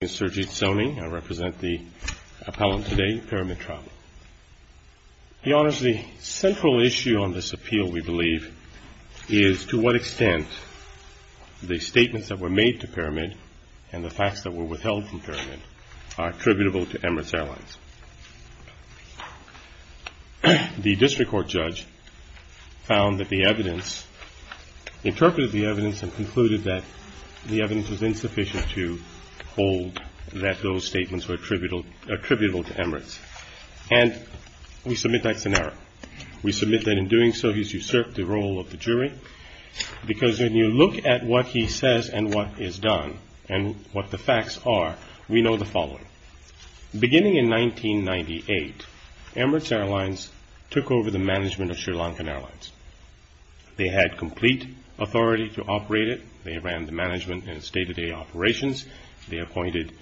My name is Sergei Tsoni. I represent the appellant today, Pyramid Travel. Your Honor, the central issue on this appeal, we believe, is to what extent the statements that were made to Pyramid and the facts that were withheld from Pyramid are attributable to Emirates Airlines. The district court judge found that the evidence, interpreted the evidence, and concluded that the evidence was insufficient to hold that those statements were attributable to Emirates. And we submit that's an error. We submit that in doing so, he's usurped the role of the jury, because when you look at what he says and what is done and what the facts are, we know the following. Beginning in 1998, Emirates Airlines took over the management of Sri Lankan Airlines. They had complete authority to operate it. They ran the management in its day-to-day operations. They appointed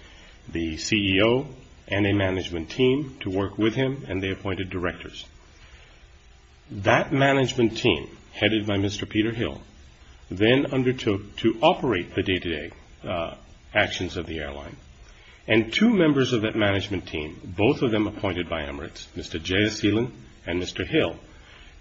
the CEO and a management team to work with him, and they appointed directors. That management team, headed by Mr. Peter Hill, then undertook to operate the day-to-day actions of the airline. And two members of that management team, both of them appointed by Emirates, Mr. Jayaseelan and Mr. Hill,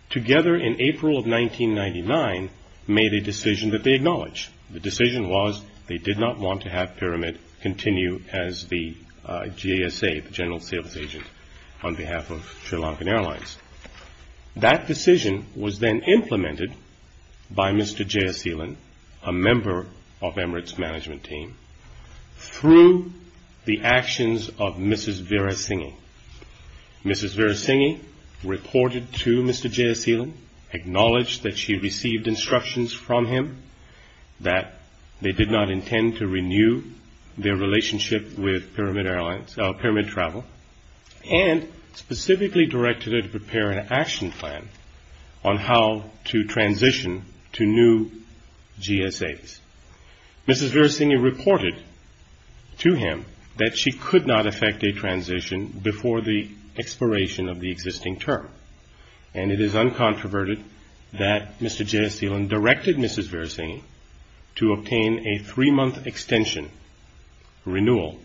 together in April of 1999, made a decision that they acknowledged. The decision was they did not want to have Pyramid continue as the GSA, the General Sales Agent, on behalf of Sri Lankan Airlines. That decision was then implemented by Mr. Jayaseelan, a member of Emirates' management team, through the actions of Mrs. Virasinghe. Mrs. Virasinghe reported to Mr. Jayaseelan, acknowledged that she received instructions from him that they did not intend to renew their relationship with Pyramid Travel, and specifically directed her to prepare an action plan on how to transition to new GSAs. Mrs. Virasinghe reported to him that she could not effect a transition before the expiration of the existing term, and it is uncontroverted that Mr. Jayaseelan directed Mrs. Virasinghe to obtain a three-month extension renewal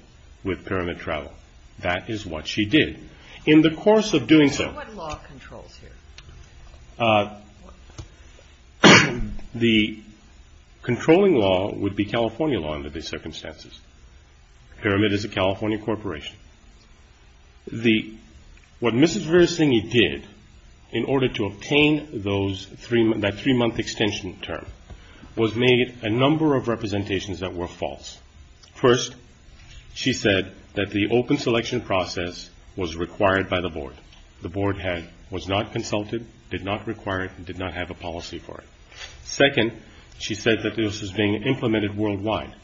with Pyramid Travel. That is what she did. In the course of doing so... under these circumstances. Pyramid is a California corporation. What Mrs. Virasinghe did in order to obtain that three-month extension term was made a number of representations that were false. First, she said that the open selection process was required by the Board. The Board was not consulted, did not require it, and did not have a policy for it. Second, she said that this was being implemented worldwide.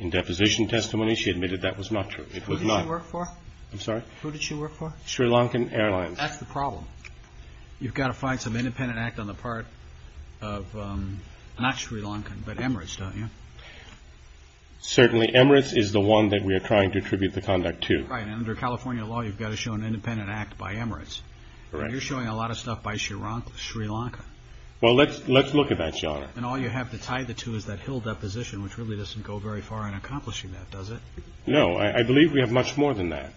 In deposition testimony, she admitted that was not true. Who did she work for? I'm sorry? Who did she work for? Sri Lankan Airlines. That's the problem. You've got to find some independent act on the part of, not Sri Lankan, but Emirates, don't you? Certainly, Emirates is the one that we are trying to attribute the conduct to. Right, and under California law, you've got to show an independent act by Emirates. Correct. You're showing a lot of stuff by Sri Lanka. Well, let's look at that, Your Honor. And all you have to tie the two is that Hill deposition, which really doesn't go very far in accomplishing that, does it? No, I believe we have much more than that.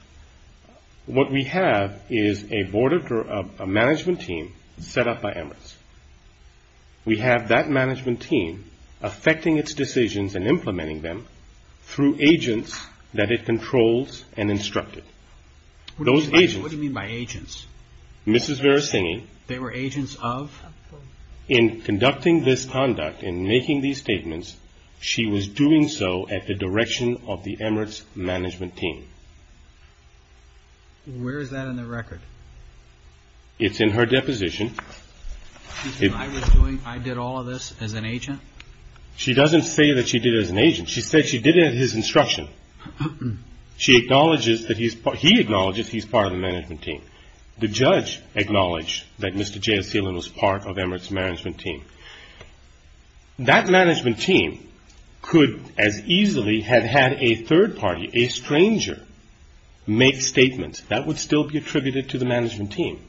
What we have is a management team set up by Emirates. We have that management team effecting its decisions and implementing them through agents that it controls and instructed. What do you mean by agents? Mrs. Virasinghe. They were agents of? In conducting this conduct, in making these statements, she was doing so at the direction of the Emirates management team. Where is that in the record? It's in her deposition. She said I was doing, I did all of this as an agent? She doesn't say that she did it as an agent. She said she did it at his instruction. She acknowledges that he's, he acknowledges he's part of the management team. The judge acknowledged that Mr. J.S. Thielen was part of Emirates management team. That management team could as easily have had a third party, a stranger, make statements. That would still be attributed to the management team.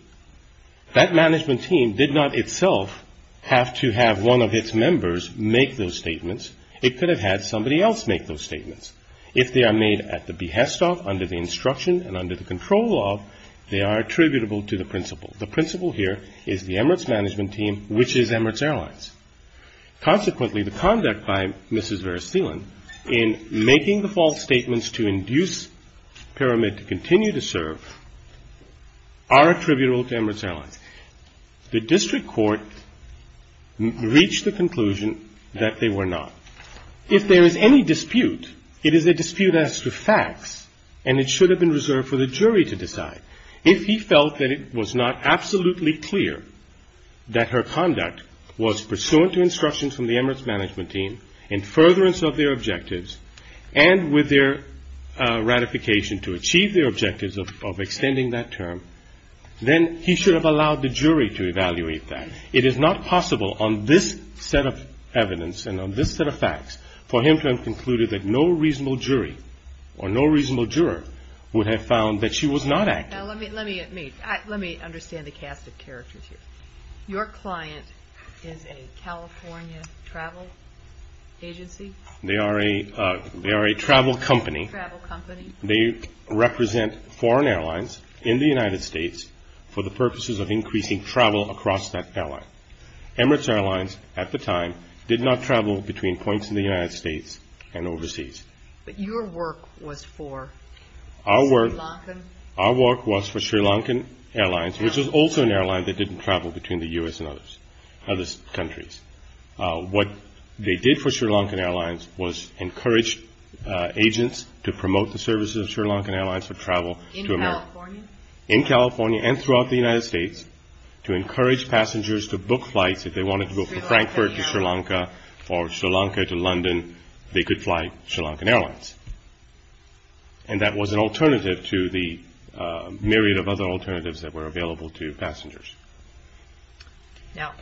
That management team did not itself have to have one of its members make those statements. If they are made at the behest of, under the instruction and under the control of, they are attributable to the principal. The principal here is the Emirates management team, which is Emirates Airlines. Consequently, the conduct by Mrs. Virasinghe in making the false statements to induce Pyramid to continue to serve are attributable to Emirates Airlines. The district court reached the conclusion that they were not. If there is any dispute, it is a dispute as to facts, and it should have been reserved for the jury to decide. If he felt that it was not absolutely clear that her conduct was pursuant to instructions from the Emirates management team, in furtherance of their objectives, and with their ratification to achieve their objectives of extending that term, then he should have allowed the jury to evaluate that. It is not possible on this set of evidence and on this set of facts for him to have concluded that no reasonable jury or no reasonable juror would have found that she was not active. Now let me understand the cast of characters here. Your client is a California travel agency? They are a travel company. Travel company. They represent foreign airlines in the United States for the purposes of increasing travel across that airline. Emirates Airlines at the time did not travel between points in the United States and overseas. But your work was for Sri Lankan? Our work was for Sri Lankan Airlines, which was also an airline that didn't travel between the U.S. and other countries. What they did for Sri Lankan Airlines was encourage agents to promote the services of Sri Lankan Airlines for travel. In California? In California and throughout the United States to encourage passengers to book flights if they wanted to go from Frankfurt to Sri Lanka or Sri Lanka to London, they could fly Sri Lankan Airlines. And that was an alternative to the myriad of other alternatives that were available to passengers. Now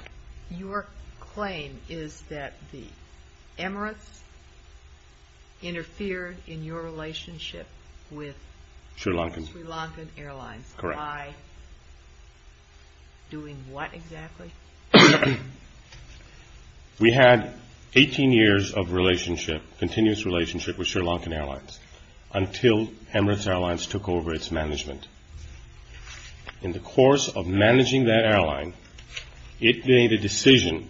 your claim is that the Emirates interfered in your relationship with Sri Lankan Airlines. Correct. By doing what exactly? We had 18 years of relationship, continuous relationship with Sri Lankan Airlines until Emirates Airlines took over its management. In the course of managing that airline, it made a decision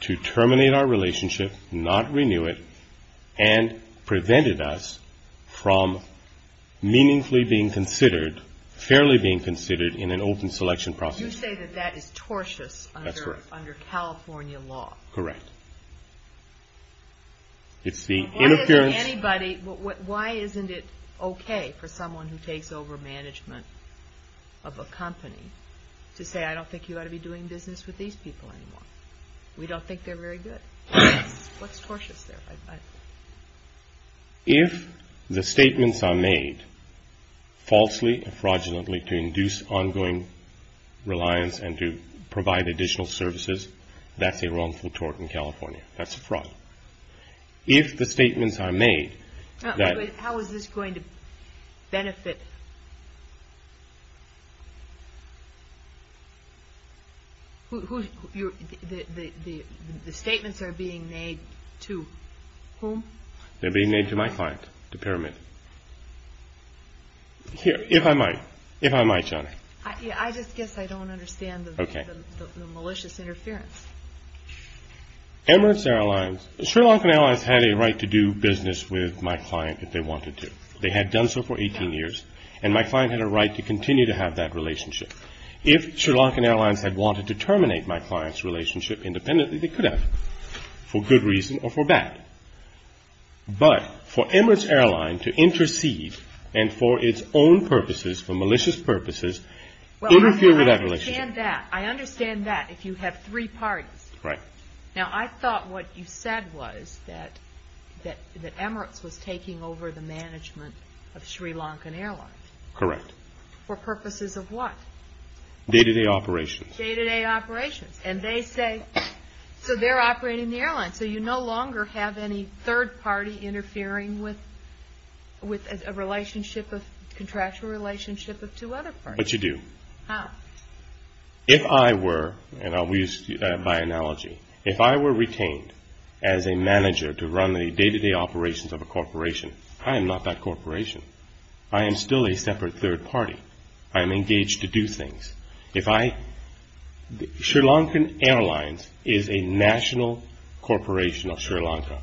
to terminate our relationship, not renew it, and prevented us from meaningfully being considered, fairly being considered in an open selection process. You say that that is tortious under California law? That's correct. Correct. Why isn't it okay for someone who takes over management of a company to say, I don't think you ought to be doing business with these people anymore? We don't think they're very good. What's tortious there? If the statements are made falsely and fraudulently to induce ongoing reliance and to provide additional services, that's a wrongful tort in California. That's a fraud. If the statements are made... How is this going to benefit... The statements are being made to whom? They're being made to my client, to Pyramid. I just guess I don't understand the malicious interference. Emirates Airlines... Sri Lankan Airlines had a right to do business with my client if they wanted to. They had done so for 18 years, and my client had a right to continue to have that relationship. If Sri Lankan Airlines had wanted to terminate my client's relationship independently, they could have, for good reason or for bad. But for Emirates Airlines to intercede and for its own purposes, for malicious purposes, interfere with that relationship... Well, I understand that. I understand that if you have three parties. Right. Now, I thought what you said was that Emirates was taking over the management of Sri Lankan Airlines. Correct. For purposes of what? Day-to-day operations. Day-to-day operations. So they're operating the airline. So you no longer have any third party interfering with a contractual relationship of two other parties. But you do. How? If I were, and I'll use my analogy, if I were retained as a manager to run the day-to-day operations of a corporation, I am not that corporation. I am still a separate third party. I am engaged to do things. Sri Lankan Airlines is a national corporation of Sri Lanka.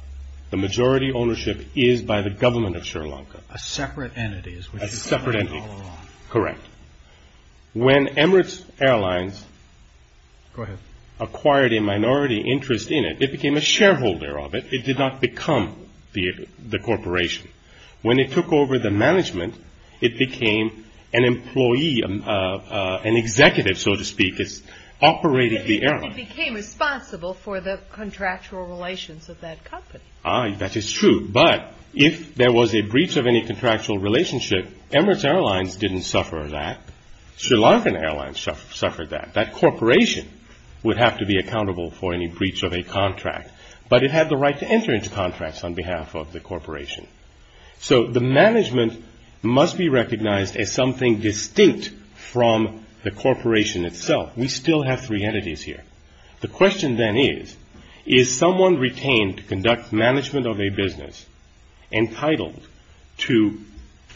The majority ownership is by the government of Sri Lanka. A separate entity. A separate entity. Correct. When Emirates Airlines acquired a minority interest in it, it became a shareholder of it. It did not become the corporation. When it took over the management, it became an employee, an executive, so to speak. It operated the airline. It became responsible for the contractual relations of that company. That is true. But if there was a breach of any contractual relationship, Emirates Airlines didn't suffer that. Sri Lankan Airlines suffered that. But it had the right to enter into contracts on behalf of the corporation. So the management must be recognized as something distinct from the corporation itself. We still have three entities here. The question then is, is someone retained to conduct management of a business entitled to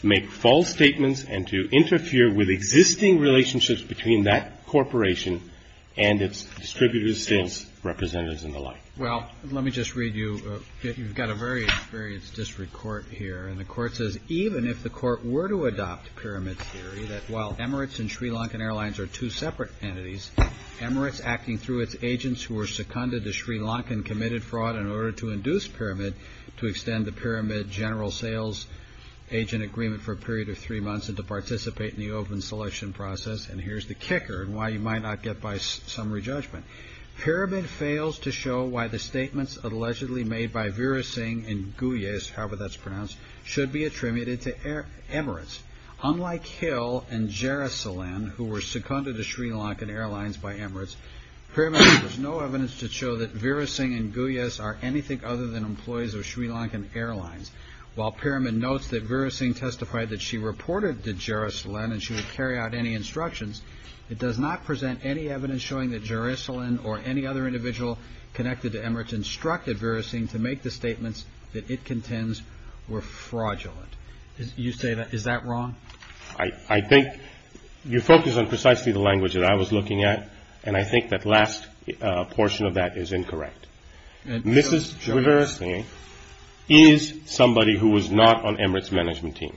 make false statements and to interfere with existing relationships between that corporation and its distributors, sales representatives, and the like? Well, let me just read you. You've got a very experienced district court here. And the court says, even if the court were to adopt pyramid theory, that while Emirates and Sri Lankan Airlines are two separate entities, Emirates, acting through its agents who were seconded to Sri Lankan, committed fraud in order to induce pyramid to extend the pyramid general sales agent agreement for a period of three months and to participate in the open selection process. And here's the kicker and why you might not get by summary judgment. Pyramid fails to show why the statements allegedly made by Veera Singh and Goyes, however that's pronounced, should be attributed to Emirates. Unlike Hill and Jerisalem, who were seconded to Sri Lankan Airlines by Emirates, pyramid has no evidence to show that Veera Singh and Goyes are anything other than employees of Sri Lankan Airlines. While pyramid notes that Veera Singh testified that she reported to Jerisalem and she would carry out any instructions, it does not present any evidence showing that Jerisalem or any other individual connected to Emirates instructed Veera Singh to make the statements that it contends were fraudulent. Is that wrong? I think you focus on precisely the language that I was looking at, and I think that last portion of that is incorrect. Mrs. Veera Singh is somebody who was not on Emirates' management team,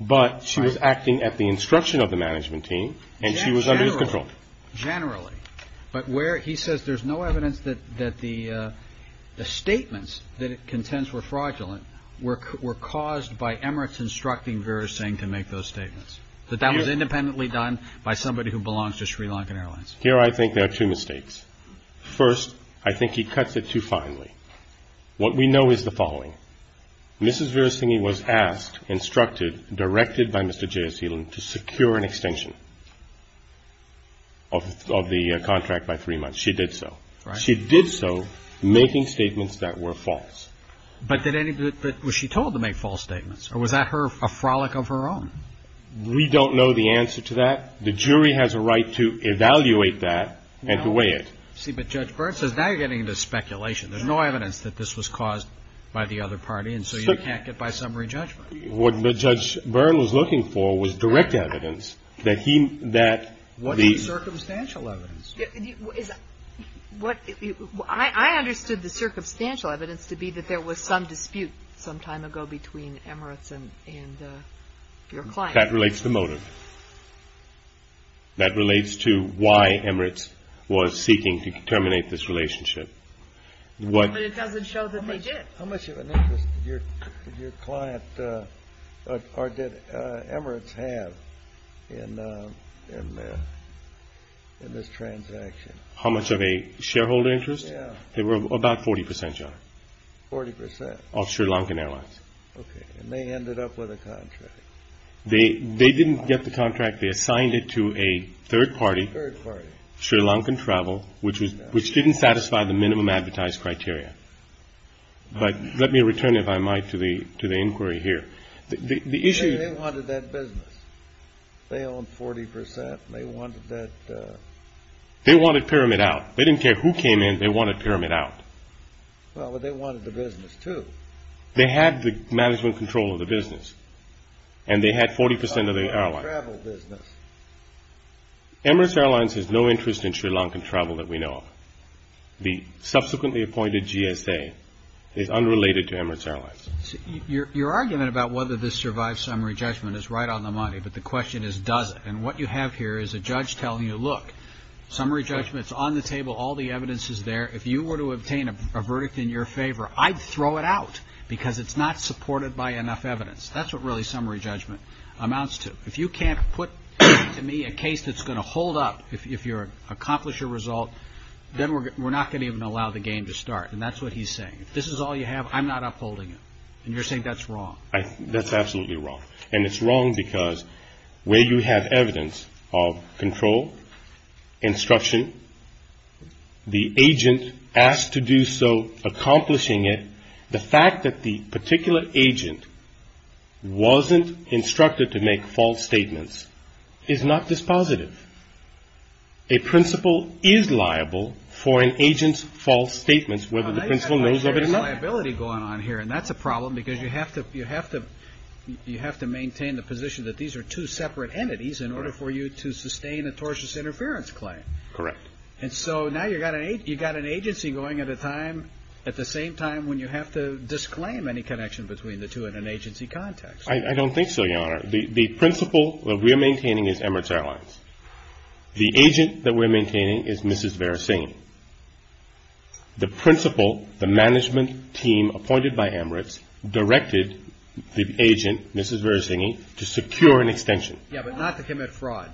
but she was acting at the instruction of the management team and she was under his control. Generally, but where he says there's no evidence that the statements that it contends were fraudulent were caused by Emirates instructing Veera Singh to make those statements, that that was independently done by somebody who belongs to Sri Lankan Airlines. Here I think there are two mistakes. First, I think he cuts it too finely. What we know is the following. Mrs. Veera Singh was asked, instructed, directed by Mr. Jerisalem to secure an extension of the contract by three months. She did so. She did so making statements that were false. But was she told to make false statements, or was that a frolic of her own? We don't know the answer to that. The jury has a right to evaluate that and to weigh it. See, but Judge Byrne says now you're getting into speculation. There's no evidence that this was caused by the other party, and so you can't get by summary judgment. What Judge Byrne was looking for was direct evidence that he, that the- What is the circumstantial evidence? I understood the circumstantial evidence to be that there was some dispute sometime ago between Emirates and your client. That relates to motive. That relates to why Emirates was seeking to terminate this relationship. But it doesn't show that they did. How much of an interest did your client or did Emirates have in this transaction? How much of a shareholder interest? Yeah. They were about 40 percent, Your Honor. Forty percent. Of Sri Lankan Airlines. Okay, and they ended up with a contract. They didn't get the contract. They assigned it to a third party. Third party. Sri Lankan Travel, which didn't satisfy the minimum advertised criteria. But let me return, if I might, to the inquiry here. The issue- They wanted that business. They owned 40 percent, and they wanted that- They wanted Pyramid out. They didn't care who came in. They wanted Pyramid out. Well, but they wanted the business, too. They had the management control of the business, and they had 40 percent of the airline. Travel business. Emirates Airlines has no interest in Sri Lankan travel that we know of. The subsequently appointed GSA is unrelated to Emirates Airlines. Your argument about whether this survives summary judgment is right on the money, but the question is, does it? And what you have here is a judge telling you, look, summary judgment is on the table. All the evidence is there. If you were to obtain a verdict in your favor, I'd throw it out because it's not supported by enough evidence. That's what really summary judgment amounts to. If you can't put to me a case that's going to hold up if you accomplish your result, then we're not going to even allow the game to start. And that's what he's saying. If this is all you have, I'm not upholding it. And you're saying that's wrong. That's absolutely wrong. And it's wrong because where you have evidence of control, instruction, the agent asked to do so, accomplishing it. The fact that the particular agent wasn't instructed to make false statements is not dispositive. A principal is liable for an agent's false statements, whether the principal knows of it or not. And that's a problem because you have to maintain the position that these are two separate entities in order for you to sustain a tortious interference claim. Correct. And so now you've got an agency going at a time at the same time when you have to disclaim any connection between the two in an agency context. I don't think so, Your Honor. The principal that we're maintaining is Emirates Airlines. The agent that we're maintaining is Mrs. Verisign. The principal, the management team appointed by Emirates, directed the agent, Mrs. Verisign, to secure an extension. Yeah, but not to commit fraud.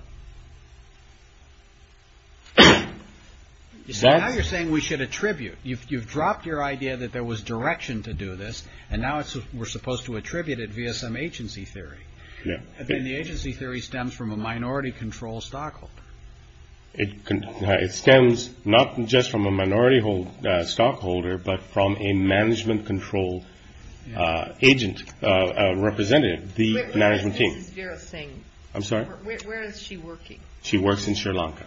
So now you're saying we should attribute. You've dropped your idea that there was direction to do this, and now we're supposed to attribute it via some agency theory. And then the agency theory stems from a minority control stockholder. It stems not just from a minority stockholder, but from a management control agent, a representative, the management team. Where is Mrs. Verisign? I'm sorry? Where is she working? She works in Sri Lanka.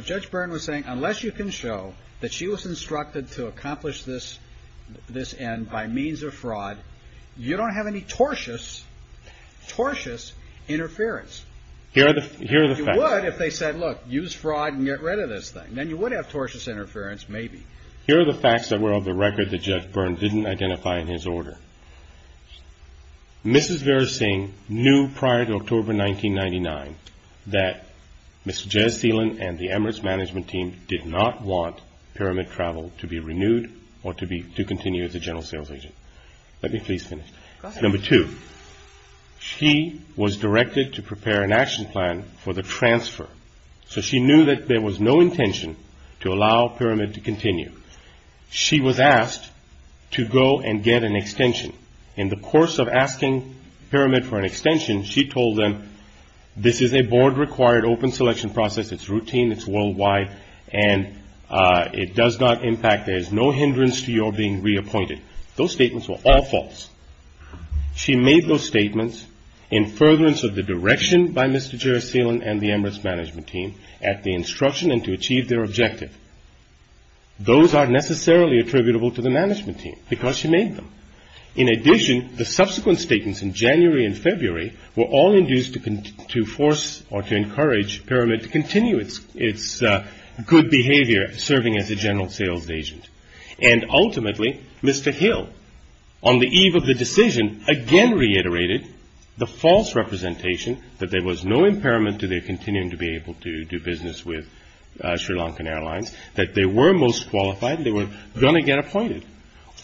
Judge Byrne was saying unless you can show that she was instructed to accomplish this end by means of fraud, you don't have any tortious, tortious interference. Here are the facts. You would if they said, look, use fraud and get rid of this thing. Then you would have tortious interference, maybe. Here are the facts that were on the record that Judge Byrne didn't identify in his order. Mrs. Verisign knew prior to October 1999 that Mr. Jez Seelan and the Emirates management team did not want Pyramid Travel to be renewed or to continue as a general sales agent. Let me please finish. Go ahead. Number two, she was directed to prepare an action plan for the transfer. So she knew that there was no intention to allow Pyramid to continue. She was asked to go and get an extension. In the course of asking Pyramid for an extension, she told them this is a board-required open selection process. It's routine. It's worldwide. And it does not impact. There is no hindrance to your being reappointed. Those statements were all false. She made those statements in furtherance of the direction by Mr. Jez Seelan and the Emirates management team at the instruction and to achieve their objective. Those are necessarily attributable to the management team because she made them. In addition, the subsequent statements in January and February were all induced to force or to encourage Pyramid to continue its good behavior, serving as a general sales agent. And ultimately, Mr. Hill, on the eve of the decision, again reiterated the false representation that there was no impairment to their continuing to be able to do business with Sri Lankan Airlines, that they were most qualified and they were going to get appointed.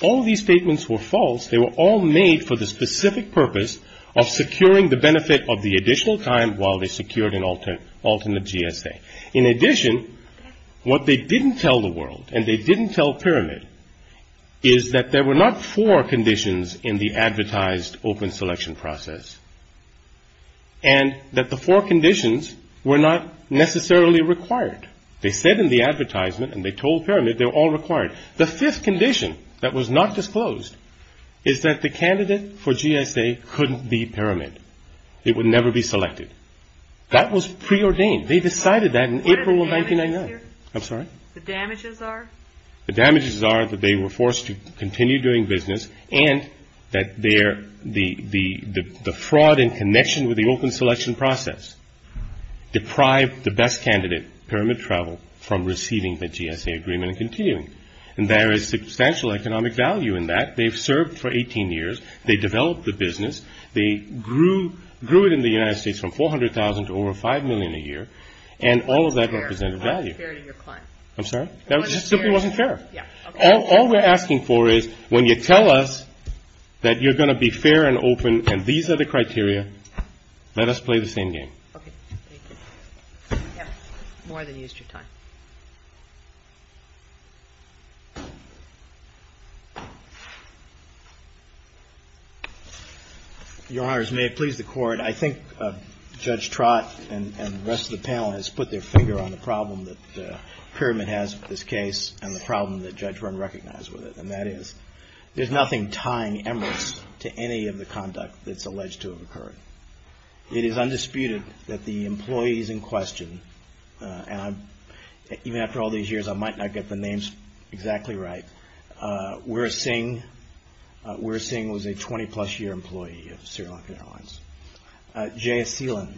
All these statements were false. They were all made for the specific purpose of securing the benefit of the additional time while they secured an alternate GSA. In addition, what they didn't tell the world and they didn't tell Pyramid is that there were not four conditions in the advertised open selection process and that the four conditions were not necessarily required. They said in the advertisement and they told Pyramid they were all required. The fifth condition that was not disclosed is that the candidate for GSA couldn't be Pyramid. It would never be selected. That was preordained. They decided that in April of 1999. I'm sorry? The damages are? The damages are that they were forced to continue doing business and that the fraud in connection with the open selection process deprived the best candidate, Pyramid Travel, from receiving the GSA agreement and continuing. And there is substantial economic value in that. They've served for 18 years. They developed the business. They grew it in the United States from $400,000 to over $5 million a year. And all of that represented value. It wasn't fair to your client. I'm sorry? It simply wasn't fair. Yeah. All we're asking for is when you tell us that you're going to be fair and open and these are the criteria, let us play the same game. Okay. Thank you. More than you used your time. Your Honors, may it please the Court. I think Judge Trott and the rest of the panel has put their finger on the problem that Pyramid has with this case and the problem that Judge Wren recognized with it. And that is there's nothing tying Emirates to any of the conduct that's alleged to have occurred. It is undisputed that the employees in question, and even after all these years I might not get the names exactly right, Wera Singh was a 20-plus year employee of Sri Lankan Airlines. J.S. Seelan,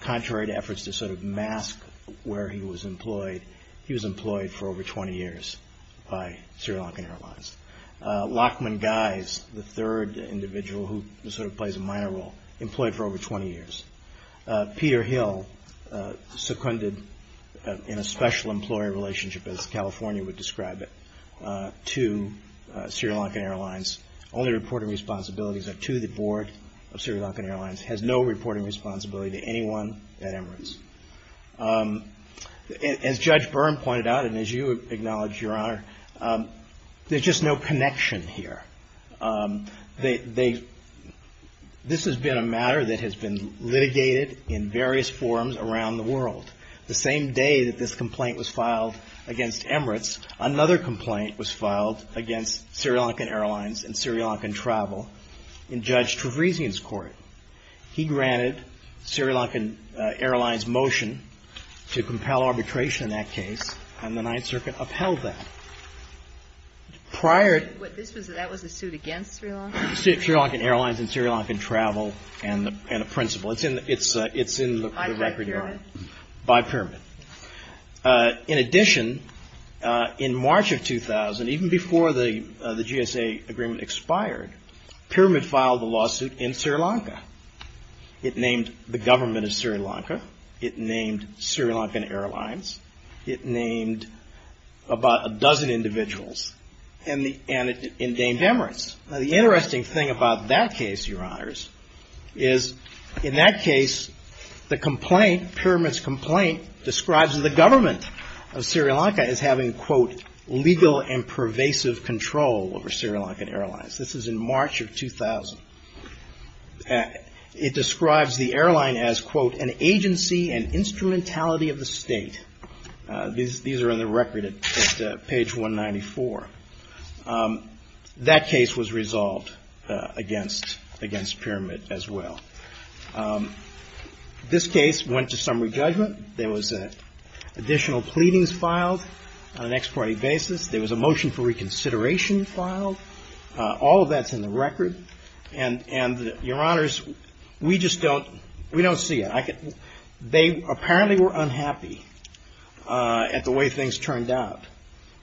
contrary to efforts to sort of mask where he was employed, he was employed for over 20 years by Sri Lankan Airlines. Lachman Guise, the third individual who sort of plays a minor role, employed for over 20 years. Peter Hill, seconded in a special employee relationship, as California would describe it, to Sri Lankan Airlines. Only reporting responsibilities are to the Board of Sri Lankan Airlines. Has no reporting responsibility to anyone at Emirates. As Judge Byrne pointed out, and as you acknowledge, Your Honor, there's just no connection here. This has been a matter that has been litigated in various forums around the world. The same day that this complaint was filed against Emirates, another complaint was filed against Sri Lankan Airlines and Sri Lankan Travel in Judge Trevesian's court. He granted Sri Lankan Airlines' motion to compel arbitration in that case, and the Ninth Circuit upheld that. Prior to... But that was a suit against Sri Lanka? Sri Lankan Airlines and Sri Lankan Travel and a principal. It's in the record, Your Honor. By Pyramid. By Pyramid. In addition, in March of 2000, even before the GSA agreement expired, Pyramid filed a lawsuit in Sri Lanka. It named the government of Sri Lanka. It named Sri Lankan Airlines. It named about a dozen individuals. And it indained Emirates. Now, the interesting thing about that case, Your Honors, is in that case, the complaint, Pyramid's complaint, describes the government of Sri Lanka as having, quote, legal and pervasive control over Sri Lankan Airlines. This is in March of 2000. It describes the airline as, quote, an agency and instrumentality of the state. These are in the record at page 194. That case was resolved against Pyramid as well. This case went to summary judgment. There was additional pleadings filed on an ex parte basis. There was a motion for reconsideration filed. All of that's in the record. And, Your Honors, we just don't see it. They apparently were unhappy at the way things turned out.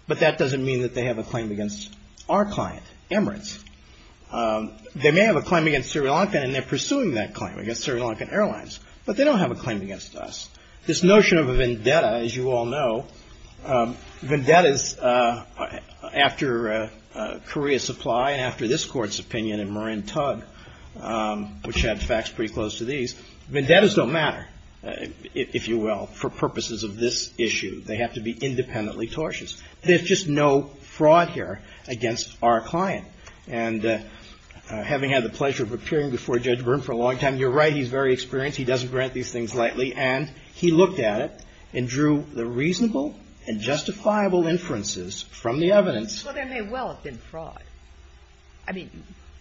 But that doesn't mean that they have a claim against our client, Emirates. They may have a claim against Sri Lankan, and they're pursuing that claim against Sri Lankan Airlines. But they don't have a claim against us. This notion of a vendetta, as you all know, vendettas after Korea Supply and after this court's opinion in Marin Tug, which had facts pretty close to these, vendettas don't matter, if you will, for purposes of this issue. They have to be independently tortious. There's just no fraud here against our client. And having had the pleasure of appearing before Judge Byrne for a long time, you're right. He's very experienced. He doesn't grant these things lightly. And he looked at it and drew the reasonable and justifiable inferences from the evidence. Well, there may well have been fraud. I mean,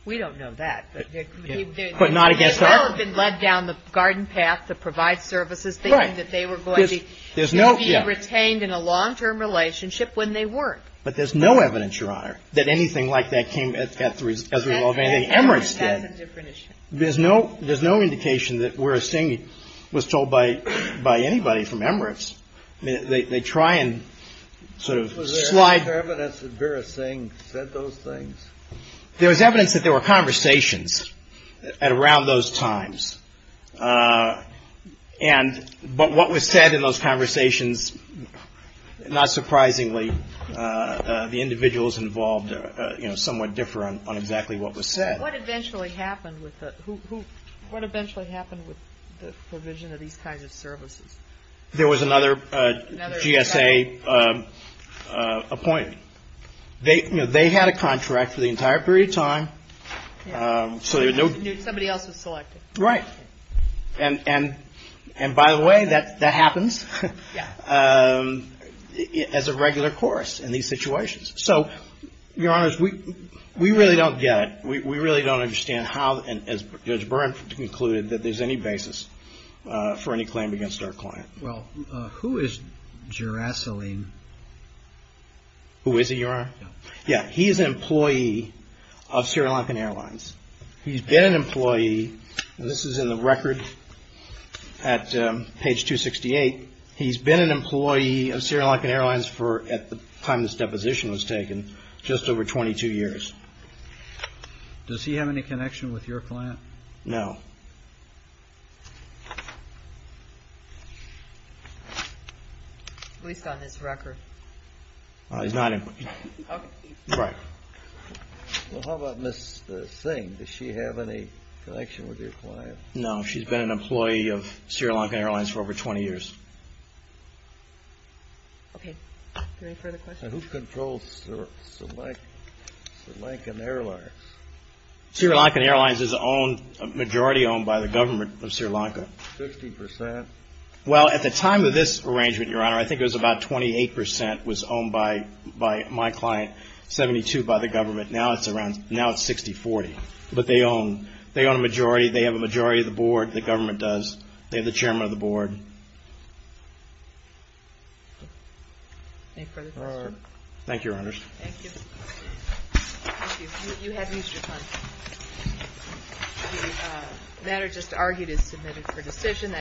we don't know that, but there could be. But not against us. There may well have been led down the garden path to provide services, thinking that they were going to be. Right. And be retained in a long-term relationship when they weren't. But there's no evidence, Your Honor, that anything like that came as a result of anything Emirates did. That's a different issue. There's no indication that Vera Singh was told by anybody from Emirates. They try and sort of slide. Was there evidence that Vera Singh said those things? There was evidence that there were conversations around those times. But what was said in those conversations, not surprisingly, the individuals involved somewhat differ on exactly what was said. What eventually happened with the provision of these kinds of services? There was another GSA appointed. They had a contract for the entire period of time. Somebody else was selected. Right. And by the way, that happens as a regular course in these situations. So, Your Honors, we really don't get it. We really don't understand how, as Judge Byrne concluded, that there's any basis for any claim against our client. Well, who is Gerasalin? Who is he, Your Honor? Yeah. He is an employee of Sri Lankan Airlines. He's been an employee, and this is in the record at page 268. He's been an employee of Sri Lankan Airlines for, at the time this deposition was taken, just over 22 years. Does he have any connection with your client? No. At least on this record. He's not an employee. Okay. Right. Well, how about Ms. Singh? Does she have any connection with your client? No. She's been an employee of Sri Lankan Airlines for over 20 years. Okay. Any further questions? Who controls Sri Lankan Airlines? Sri Lankan Airlines is owned, majority owned, by the government of Sri Lanka. Fifty percent? Well, at the time of this arrangement, Your Honor, I think it was about 28 percent was owned by my client. Seventy-two by the government. Now it's around, now it's 60-40. But they own, they own a majority, they have a majority of the board, the government does. They're the chairman of the board. Any further questions? Thank you, Your Honors. Thank you. Thank you. You haven't used your time. The matter just argued is submitted for decision.